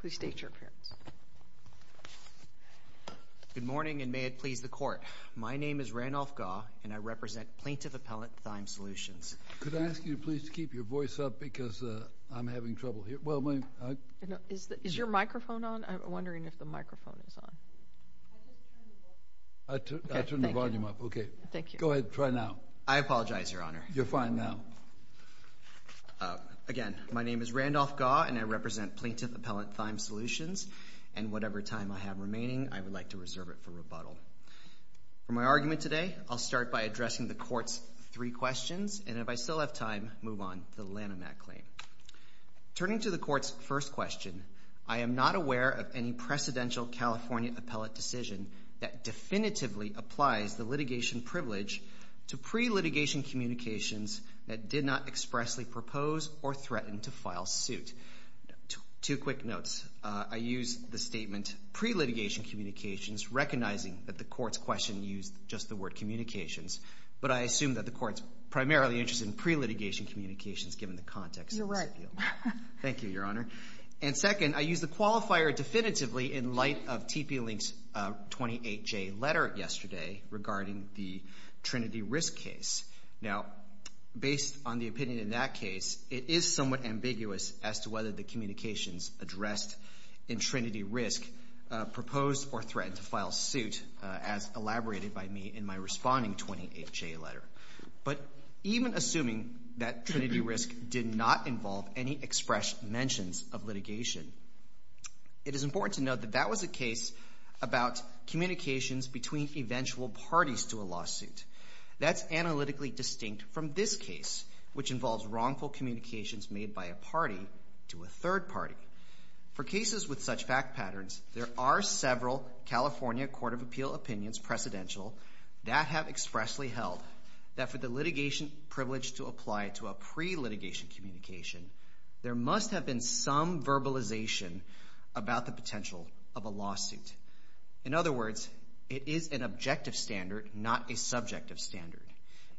Please state your appearance. Good morning, and may it please the Court. My name is Randolph Gaw, and I represent Plaintiff Appellate Thymes Solutions. Could I ask you please to keep your voice up because I'm having trouble hearing? Is your microphone on? I'm wondering if the microphone is on. I'll turn the volume up. Okay. Go ahead. Try now. I apologize, Your Honor. You're fine now. Again, my name is Randolph Gaw, and I represent Plaintiff Appellate Thymes Solutions, and whatever time I have remaining, I would like to reserve it for rebuttal. For my argument today, I'll start by addressing the Court's three questions, and if I still have time, move on to the Lanham Act claim. Turning to the Court's first question, I am not aware of any precedential California appellate decision that definitively applies the litigation privilege to pre-litigation communications that did not expressly propose or threaten to file suit. Two quick notes. I use the statement pre-litigation communications recognizing that the Court's question used just the word communications, but I assume that the Court's primarily interested in pre-litigation communications given the context of this appeal. You're right. Thank you, Your Honor. And second, I use the qualifier definitively in light of TP Link's 28-J letter yesterday regarding the Trinity Risk case. Now, based on the opinion in that case, it is somewhat ambiguous as to whether the communications addressed in Trinity Risk proposed or threatened to file suit, as elaborated by me in my responding 28-J letter. But even assuming that Trinity Risk did not involve any expressed mentions of litigation, it is important to note that that was a case about communications between eventual parties to a lawsuit. That's analytically distinct from this case, which involves wrongful communications made by a party to a third party. For cases with such fact patterns, there are several California Court of Appeal opinions, precedential, that have expressly held that for the litigation privilege to apply to a pre-litigation communication, there must have been some verbalization about the potential of a lawsuit. In other words, it is an objective standard, not a subjective standard.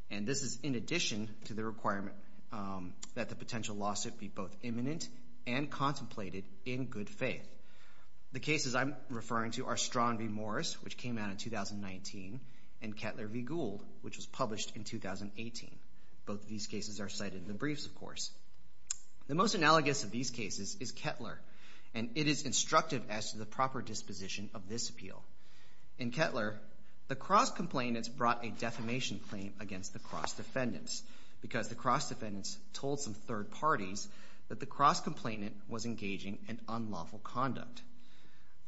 And this is in addition to the requirement that the potential lawsuit be both imminent and contemplated in good faith. The cases I'm referring to are Strawn v. Morris, which came out in 2019, and Kettler v. Gould, which was published in 2018. Both of these cases are cited in the briefs, of course. The most analogous of these cases is Kettler, and it is instructive as to the proper disposition of this appeal. In Kettler, the cross-complainants brought a defamation claim against the cross-defendants, because the cross-defendants told some third parties that the cross-complainant was engaging in unlawful conduct.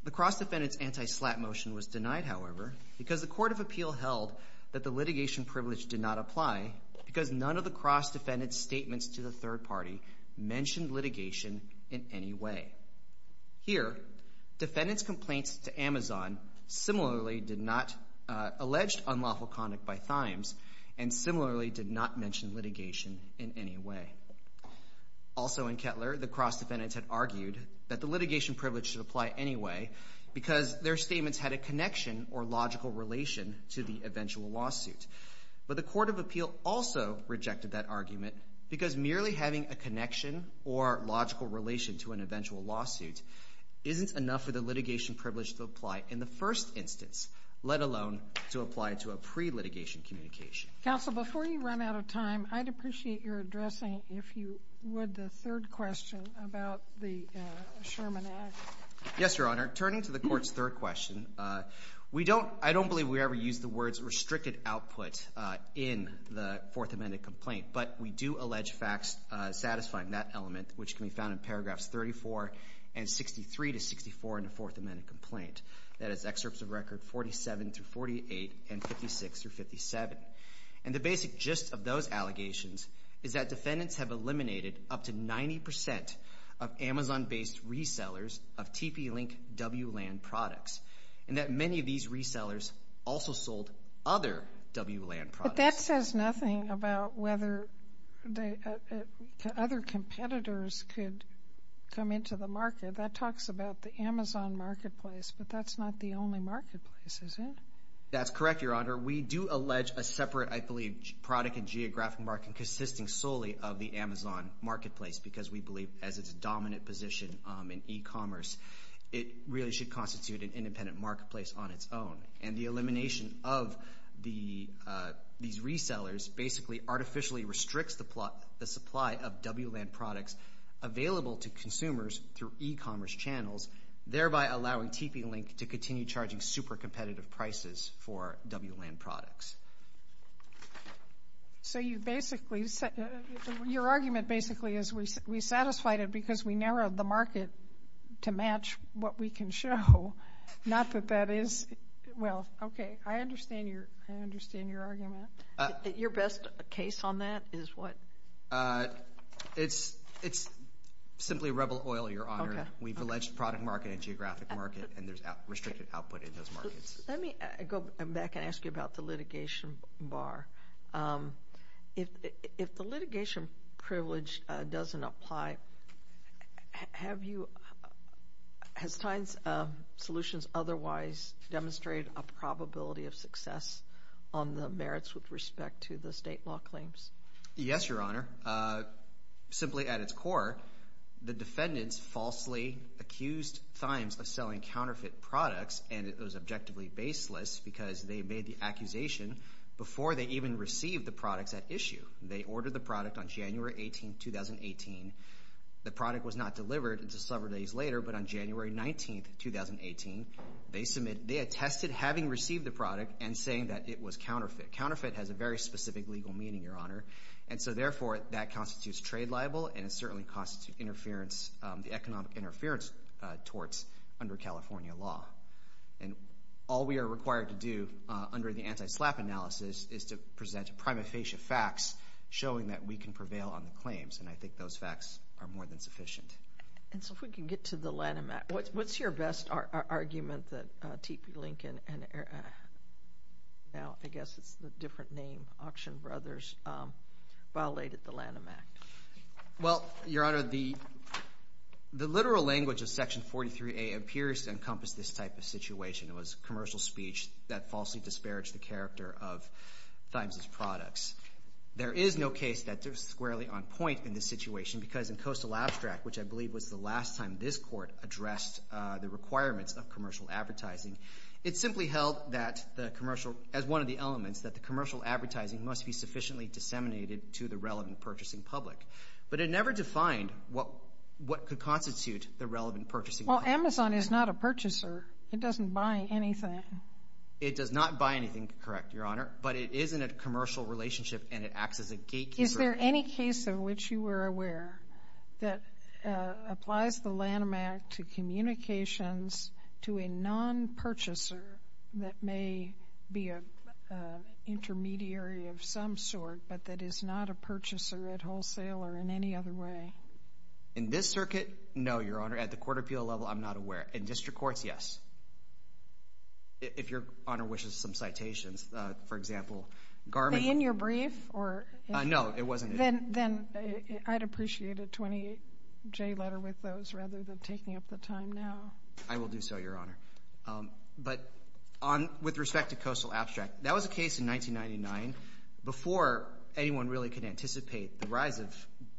The cross-defendants' anti-slap motion was denied, however, because the Court of Appeal held that the litigation privilege did not apply, because none of the cross-defendants' statements to the third party mentioned litigation in any way. Here, defendants' complaints to Amazon similarly did not allege unlawful conduct by Thymes, and similarly did not mention litigation in any way. Also in Kettler, the cross-defendants had argued that the litigation privilege should apply anyway, because their statements had a connection or logical relation to the eventual lawsuit. But the Court of Appeal also rejected that argument, because merely having a connection or logical relation to an eventual lawsuit isn't enough for the litigation privilege to apply in the first instance, let alone to apply to a pre-litigation communication. Counsel, before you run out of time, I'd appreciate your addressing, if you would, the third question about the Sherman Act. Yes, Your Honor. Turning to the Court's third question, I don't believe we ever used the words restricted output in the Fourth Amendment complaint, but we do allege facts satisfying that element, which can be found in paragraphs 34 and 63 to 64 in the Fourth Amendment complaint. That is excerpts of Record 47-48 and 56-57. And the basic gist of those allegations is that defendants have eliminated up to 90% of Amazon-based resellers of TP-Link WLAN products, and that many of these resellers also sold other WLAN products. But that says nothing about whether other competitors could come into the market. That talks about the Amazon marketplace, but that's not the only marketplace, is it? That's correct, Your Honor. We do allege a separate, I believe, product and geographic market consisting solely of the Amazon marketplace because we believe as its dominant position in e-commerce, it really should constitute an independent marketplace on its own. And the elimination of these resellers basically artificially restricts the supply of WLAN products available to consumers through e-commerce channels, thereby allowing TP-Link to continue charging super competitive prices for WLAN products. So your argument basically is we satisfied it because we narrowed the market to match what we can show, not that that is – well, okay, I understand your argument. Your best case on that is what? It's simply rebel oil, Your Honor. We've alleged product market and geographic market, and there's restricted output in those markets. Let me go back and ask you about the litigation bar. If the litigation privilege doesn't apply, have you – has Tynes Solutions otherwise demonstrated a probability of success on the merits with respect to the state law claims? Yes, Your Honor. Simply at its core, the defendants falsely accused Tynes of selling counterfeit products, and it was objectively baseless because they made the accusation before they even received the products at issue. They ordered the product on January 18, 2018. The product was not delivered until several days later, but on January 19, 2018, they attested having received the product and saying that it was counterfeit. Counterfeit has a very specific legal meaning, Your Honor, and so therefore that constitutes trade libel, and it certainly constitutes the economic interference torts under California law. And all we are required to do under the anti-SLAPP analysis is to present prima facie facts showing that we can prevail on the claims, and I think those facts are more than sufficient. And so if we can get to the Lanham Act. What's your best argument that T.P. Lincoln and now I guess it's a different name, Auction Brothers, violated the Lanham Act? Well, Your Honor, the literal language of Section 43A appears to encompass this type of situation. It was commercial speech that falsely disparaged the character of Tynes' products. There is no case that they're squarely on point in this situation because in coastal abstract, which I believe was the last time this court addressed the requirements of commercial advertising, it simply held that the commercial, as one of the elements, that the commercial advertising must be sufficiently disseminated to the relevant purchasing public. But it never defined what could constitute the relevant purchasing public. Well, Amazon is not a purchaser. It doesn't buy anything. It does not buy anything, correct, Your Honor, but it is in a commercial relationship and it acts as a gatekeeper. Is there any case of which you were aware that applies the Lanham Act to communications to a non-purchaser that may be an intermediary of some sort but that is not a purchaser at wholesale or in any other way? In this circuit, no, Your Honor. At the court appeal level, I'm not aware. In district courts, yes, if Your Honor wishes some citations. For example, Garmin— No, it wasn't. Then I'd appreciate a 20-J letter with those rather than taking up the time now. I will do so, Your Honor. But with respect to coastal abstract, that was a case in 1999. Before anyone really could anticipate the rise of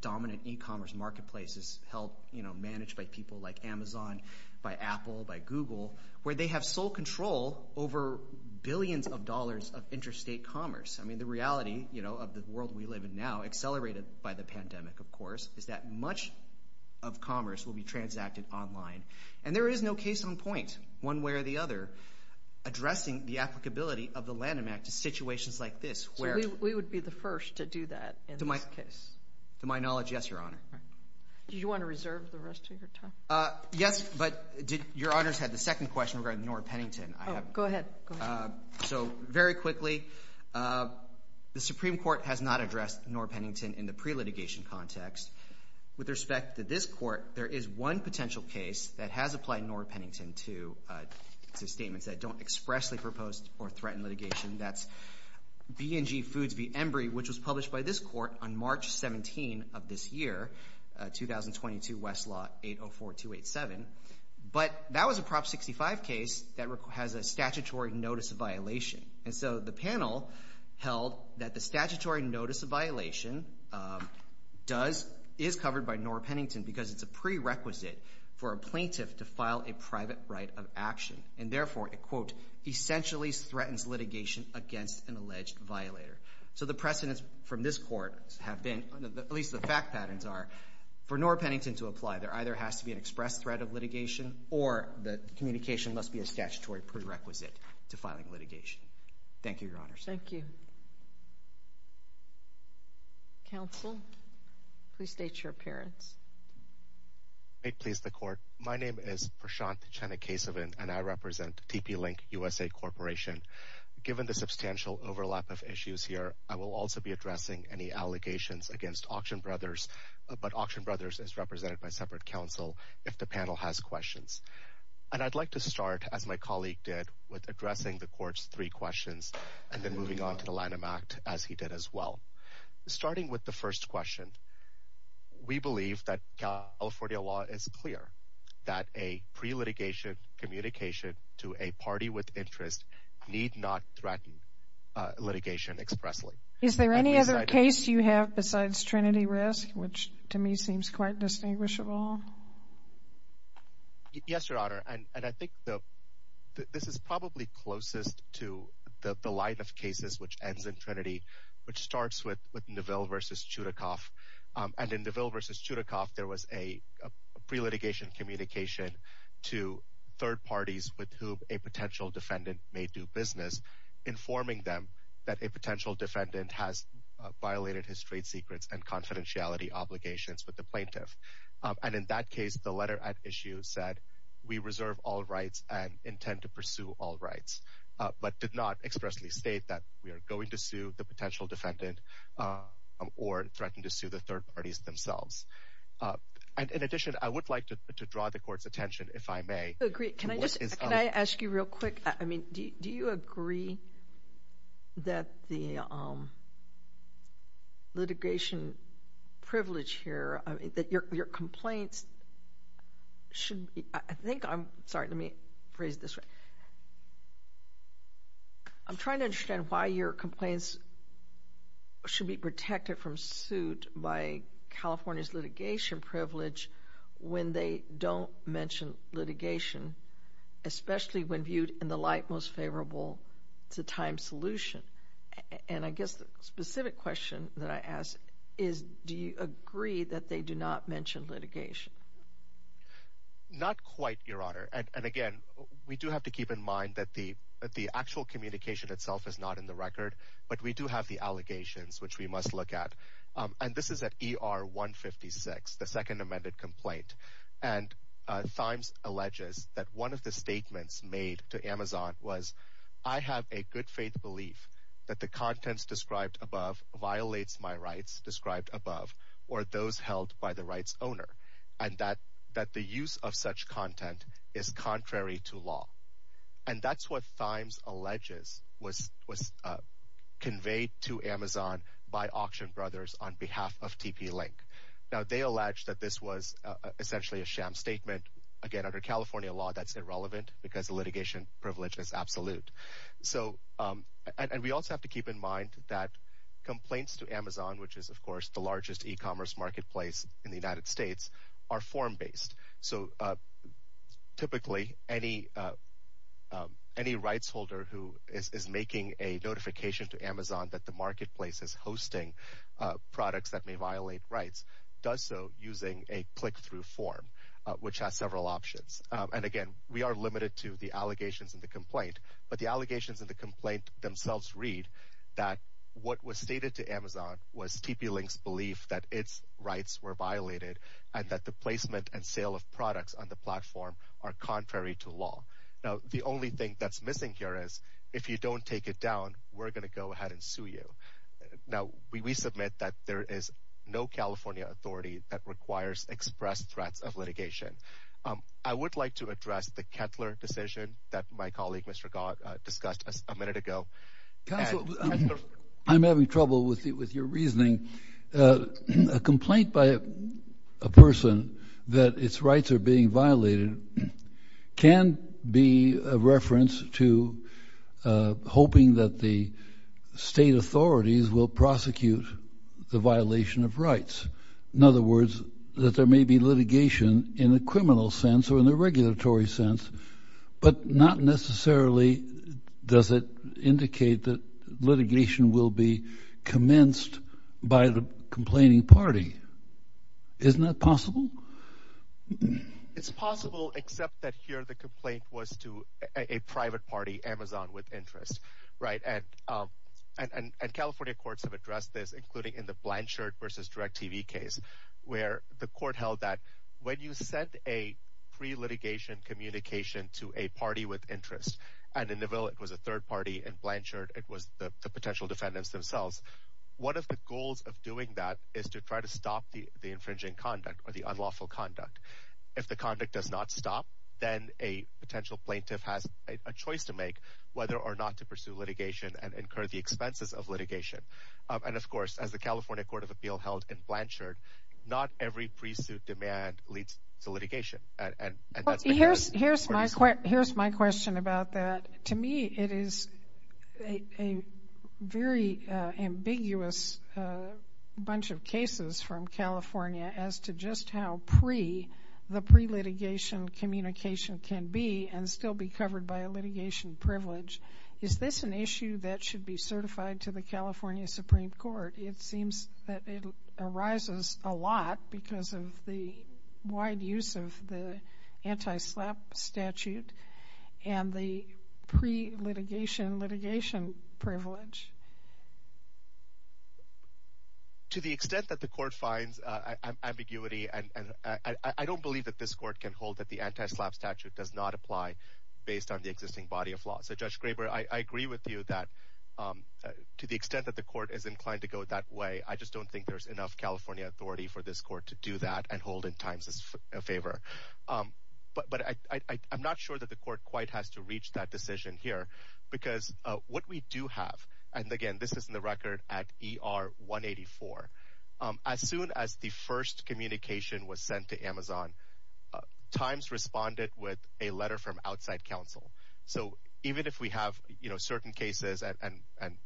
dominant e-commerce marketplaces held, you know, managed by people like Amazon, by Apple, by Google, where they have sole control over billions of dollars of interstate commerce. I mean, the reality, you know, of the world we live in now, accelerated by the pandemic, of course, is that much of commerce will be transacted online. And there is no case on point, one way or the other, addressing the applicability of the Lanham Act to situations like this where— So we would be the first to do that in this case? To my knowledge, yes, Your Honor. Do you want to reserve the rest of your time? Yes, but Your Honors had the second question regarding Norah Pennington. Oh, go ahead. So very quickly, the Supreme Court has not addressed Norah Pennington in the pre-litigation context. With respect to this court, there is one potential case that has applied Norah Pennington to statements that don't expressly propose or threaten litigation. That's B&G Foods v. Embry, which was published by this court on March 17 of this year, 2022 Westlaw 804287. But that was a Prop 65 case that has a statutory notice of violation. And so the panel held that the statutory notice of violation is covered by Norah Pennington because it's a prerequisite for a plaintiff to file a private right of action and therefore it, quote, essentially threatens litigation against an alleged violator. So the precedents from this court have been, at least the fact patterns are, for Norah Pennington to apply. There either has to be an expressed threat of litigation or the communication must be a statutory prerequisite to filing litigation. Thank you, Your Honors. Thank you. Counsel, please state your appearance. May it please the Court. My name is Prashant Chennakasevan, and I represent TP Link USA Corporation. Given the substantial overlap of issues here, I will also be addressing any allegations against Auction Brothers, but Auction Brothers is represented by separate counsel if the panel has questions. And I'd like to start, as my colleague did, with addressing the Court's three questions and then moving on to the Lanham Act, as he did as well. Starting with the first question, we believe that California law is clear that a pre-litigation communication to a party with interest need not threaten litigation expressly. Is there any other case you have besides Trinity Risk, which to me seems quite distinguishable? Yes, Your Honor, and I think this is probably closest to the line of cases which ends in Trinity, which starts with Neville v. Chudikoff. And in Neville v. Chudikoff, there was a pre-litigation communication to third parties with whom a potential defendant may do business, informing them that a potential defendant has violated his trade secrets and confidentiality obligations with the plaintiff. And in that case, the letter at issue said, we reserve all rights and intend to pursue all rights, but did not expressly state that we are going to sue the potential defendant or threaten to sue the third parties themselves. In addition, I would like to draw the Court's attention, if I may, Can I ask you real quick, do you agree that the litigation privilege here, that your complaints should be, I think, I'm sorry, let me phrase it this way. I'm trying to understand why your complaints should be protected from suit by California's litigation privilege when they don't mention litigation, especially when viewed in the light most favorable to time solution. And I guess the specific question that I ask is, do you agree that they do not mention litigation? Not quite, Your Honor. And again, we do have to keep in mind that the actual communication itself is not in the record, but we do have the allegations, which we must look at. And this is at ER 156, the second amended complaint. And Thymes alleges that one of the statements made to Amazon was, I have a good faith belief that the contents described above violates my rights described above or those held by the rights owner, and that the use of such content is contrary to law. And that's what Thymes alleges was conveyed to Amazon by Auction Brothers on behalf of TP Link. Now, they allege that this was essentially a sham statement. Again, under California law, that's irrelevant because the litigation privilege is absolute. And we also have to keep in mind that complaints to Amazon, which is, of course, the largest e-commerce marketplace in the United States, are form-based. So typically, any rights holder who is making a notification to Amazon that the marketplace is hosting products that may violate rights does so using a click-through form, which has several options. And again, we are limited to the allegations in the complaint. But the allegations in the complaint themselves read that what was stated to Amazon was TP Link's belief that its rights were violated and that the placement and sale of products on the platform are contrary to law. Now, the only thing that's missing here is if you don't take it down, we're going to go ahead and sue you. Now, we submit that there is no California authority that requires express threats of litigation. I would like to address the Kettler decision that my colleague, Mr. Gott, discussed a minute ago. Counsel, I'm having trouble with your reasoning. A complaint by a person that its rights are being violated can be a reference to hoping that the state authorities will prosecute the violation of rights. In other words, that there may be litigation in a criminal sense or in a regulatory sense, but not necessarily does it indicate that litigation will be commenced by the complaining party. Isn't that possible? It's possible, except that here the complaint was to a private party, Amazon, with interest. And California courts have addressed this, including in the Blanchard v. DirecTV case, where the court held that when you send a pre-litigation communication to a party with interest, and in the middle it was a third party in Blanchard, it was the potential defendants themselves, one of the goals of doing that is to try to stop the infringing conduct or the unlawful conduct. If the conduct does not stop, then a potential plaintiff has a choice to make, whether or not to pursue litigation and incur the expenses of litigation. And, of course, as the California Court of Appeal held in Blanchard, not every pre-suit demand leads to litigation. Here's my question about that. To me it is a very ambiguous bunch of cases from California as to just how pre the pre-litigation communication can be and still be covered by a litigation privilege. Is this an issue that should be certified to the California Supreme Court? It seems that it arises a lot because of the wide use of the anti-SLAPP statute and the pre-litigation litigation privilege. To the extent that the court finds ambiguity, I don't believe that this court can hold that the anti-SLAPP statute does not apply based on the existing body of law. So, Judge Graber, I agree with you that to the extent that the court is inclined to go that way, I just don't think there's enough California authority for this court to do that and hold in Times' favor. But I'm not sure that the court quite has to reach that decision here because what we do have, and again this is in the record at ER 184, as soon as the first communication was sent to Amazon, Times responded with a letter from outside counsel. So, even if we have certain cases and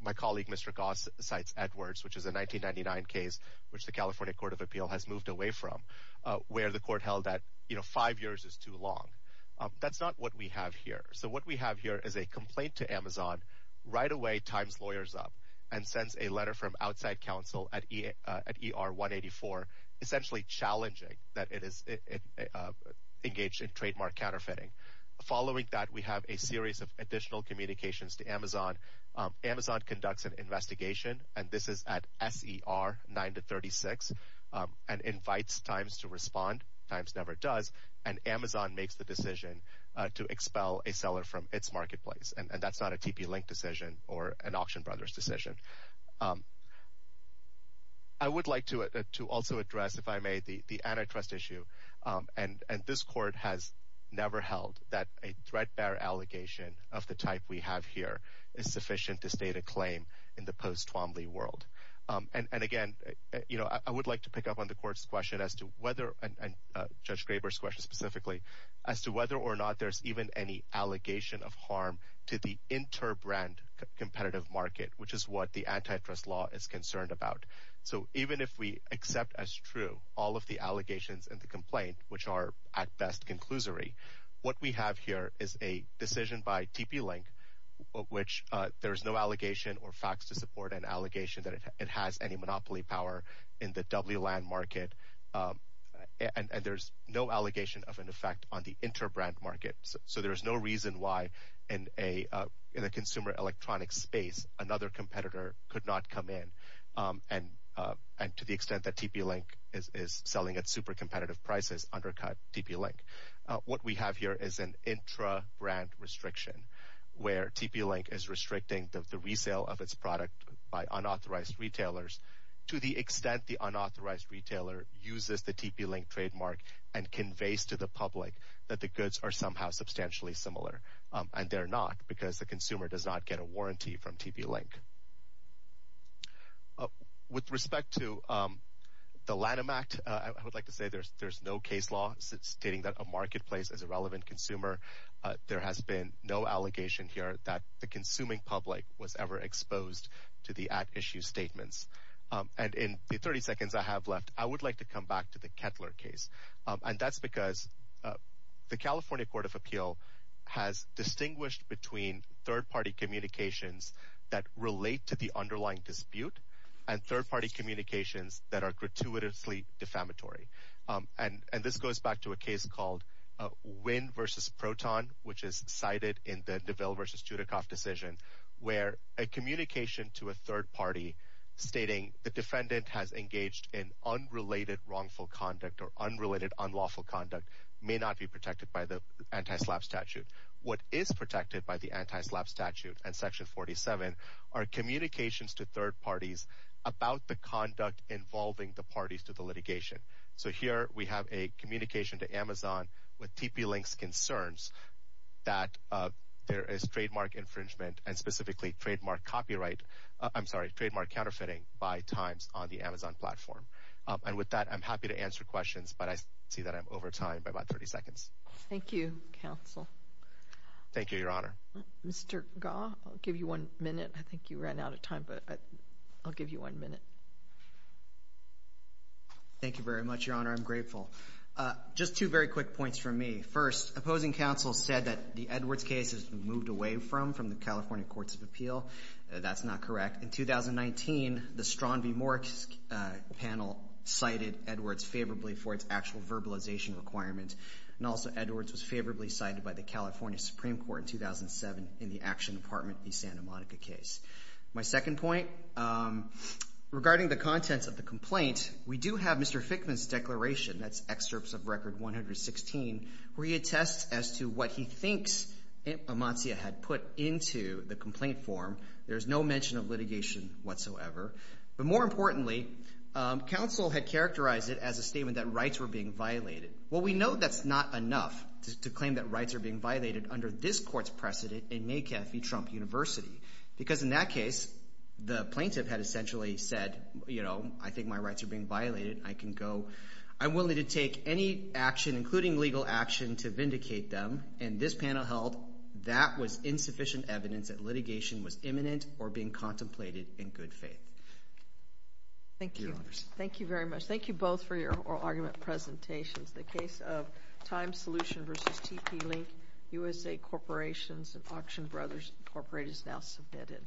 my colleague Mr. Goss cites Edwards, which is a 1999 case which the California Court of Appeal has moved away from, where the court held that five years is too long. That's not what we have here. So, what we have here is a complaint to Amazon, right away, Times lawyers up and sends a letter from outside counsel at ER 184, essentially challenging that it is engaged in trademark counterfeiting. Following that, we have a series of additional communications to Amazon. Amazon conducts an investigation, and this is at SER 9-36, and invites Times to respond. Times never does, and Amazon makes the decision to expel a seller from its marketplace. And that's not a TP-Link decision or an Auction Brothers decision. I would like to also address, if I may, the antitrust issue. And this court has never held that a threat bearer allegation of the type we have here is sufficient to state a claim in the post-Twombly world. And again, I would like to pick up on the court's question as to whether, and Judge Graber's question specifically, as to whether or not there's even any allegation of harm to the interbrand competitive market, which is what the antitrust law is concerned about. So even if we accept as true all of the allegations and the complaint, which are, at best, conclusory, what we have here is a decision by TP-Link, of which there is no allegation or facts to support an allegation that it has any monopoly power in the doubly land market, and there's no allegation of an effect on the interbrand market. So there's no reason why, in a consumer electronics space, another competitor could not come in. And to the extent that TP-Link is selling at super competitive prices, undercut TP-Link. What we have here is an intrabrand restriction, where TP-Link is restricting the resale of its product by unauthorized retailers to the extent the unauthorized retailer uses the TP-Link trademark and conveys to the public that the goods are somehow substantially similar. And they're not, because the consumer does not get a warranty from TP-Link. With respect to the Lanham Act, I would like to say there's no case law stating that a marketplace is a relevant consumer. There has been no allegation here that the consuming public was ever exposed to the at-issue statements. And in the 30 seconds I have left, I would like to come back to the Kettler case. And that's because the California Court of Appeal has distinguished between third-party communications that relate to the underlying dispute and third-party communications that are gratuitously defamatory. And this goes back to a case called Wynn v. Proton, which is cited in the DeVille v. Judicoff decision, where a communication to a third party stating the defendant has engaged in unrelated wrongful conduct or unrelated unlawful conduct may not be protected by the anti-SLAPP statute. What is protected by the anti-SLAPP statute and Section 47 are communications to third parties about the conduct involving the parties to the litigation. So here we have a communication to Amazon with TP-Link's concerns that there is trademark infringement and specifically trademark copyright, I'm sorry, trademark counterfeiting by Times on the Amazon platform. And with that, I'm happy to answer questions, but I see that I'm over time by about 30 seconds. Thank you, counsel. Thank you, Your Honor. Mr. Gaw, I'll give you one minute. I think you ran out of time, but I'll give you one minute. Thank you very much, Your Honor. I'm grateful. Just two very quick points from me. First, opposing counsel said that the Edwards case is moved away from, from the California Courts of Appeal. That's not correct. In 2019, the Strawn v. Morsk panel cited Edwards favorably for its actual verbalization requirement, and also Edwards was favorably cited by the California Supreme Court in 2007 in the Action Department v. Santa Monica case. My second point, regarding the contents of the complaint, we do have Mr. Fickman's declaration, that's excerpts of Record 116, where he attests as to what he thinks Amancia had put into the complaint form. There's no mention of litigation whatsoever. But more importantly, counsel had characterized it as a statement that rights were being violated. Well, we know that's not enough to claim that rights are being violated under this court's precedent in Macafee Trump University, because in that case, the plaintiff had essentially said, you know, I think my rights are being violated. I can go. I'm willing to take any action, including legal action, to vindicate them. And this panel held that was insufficient evidence that litigation was imminent or being contemplated in good faith. Thank you. Thank you very much. Thank you both for your oral argument presentations. The case of Time Solution v. TP Link, USA Corporations and Auction Brothers Incorporated is now submitted.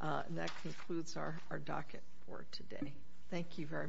And that concludes our docket for today. Thank you very much. All rise.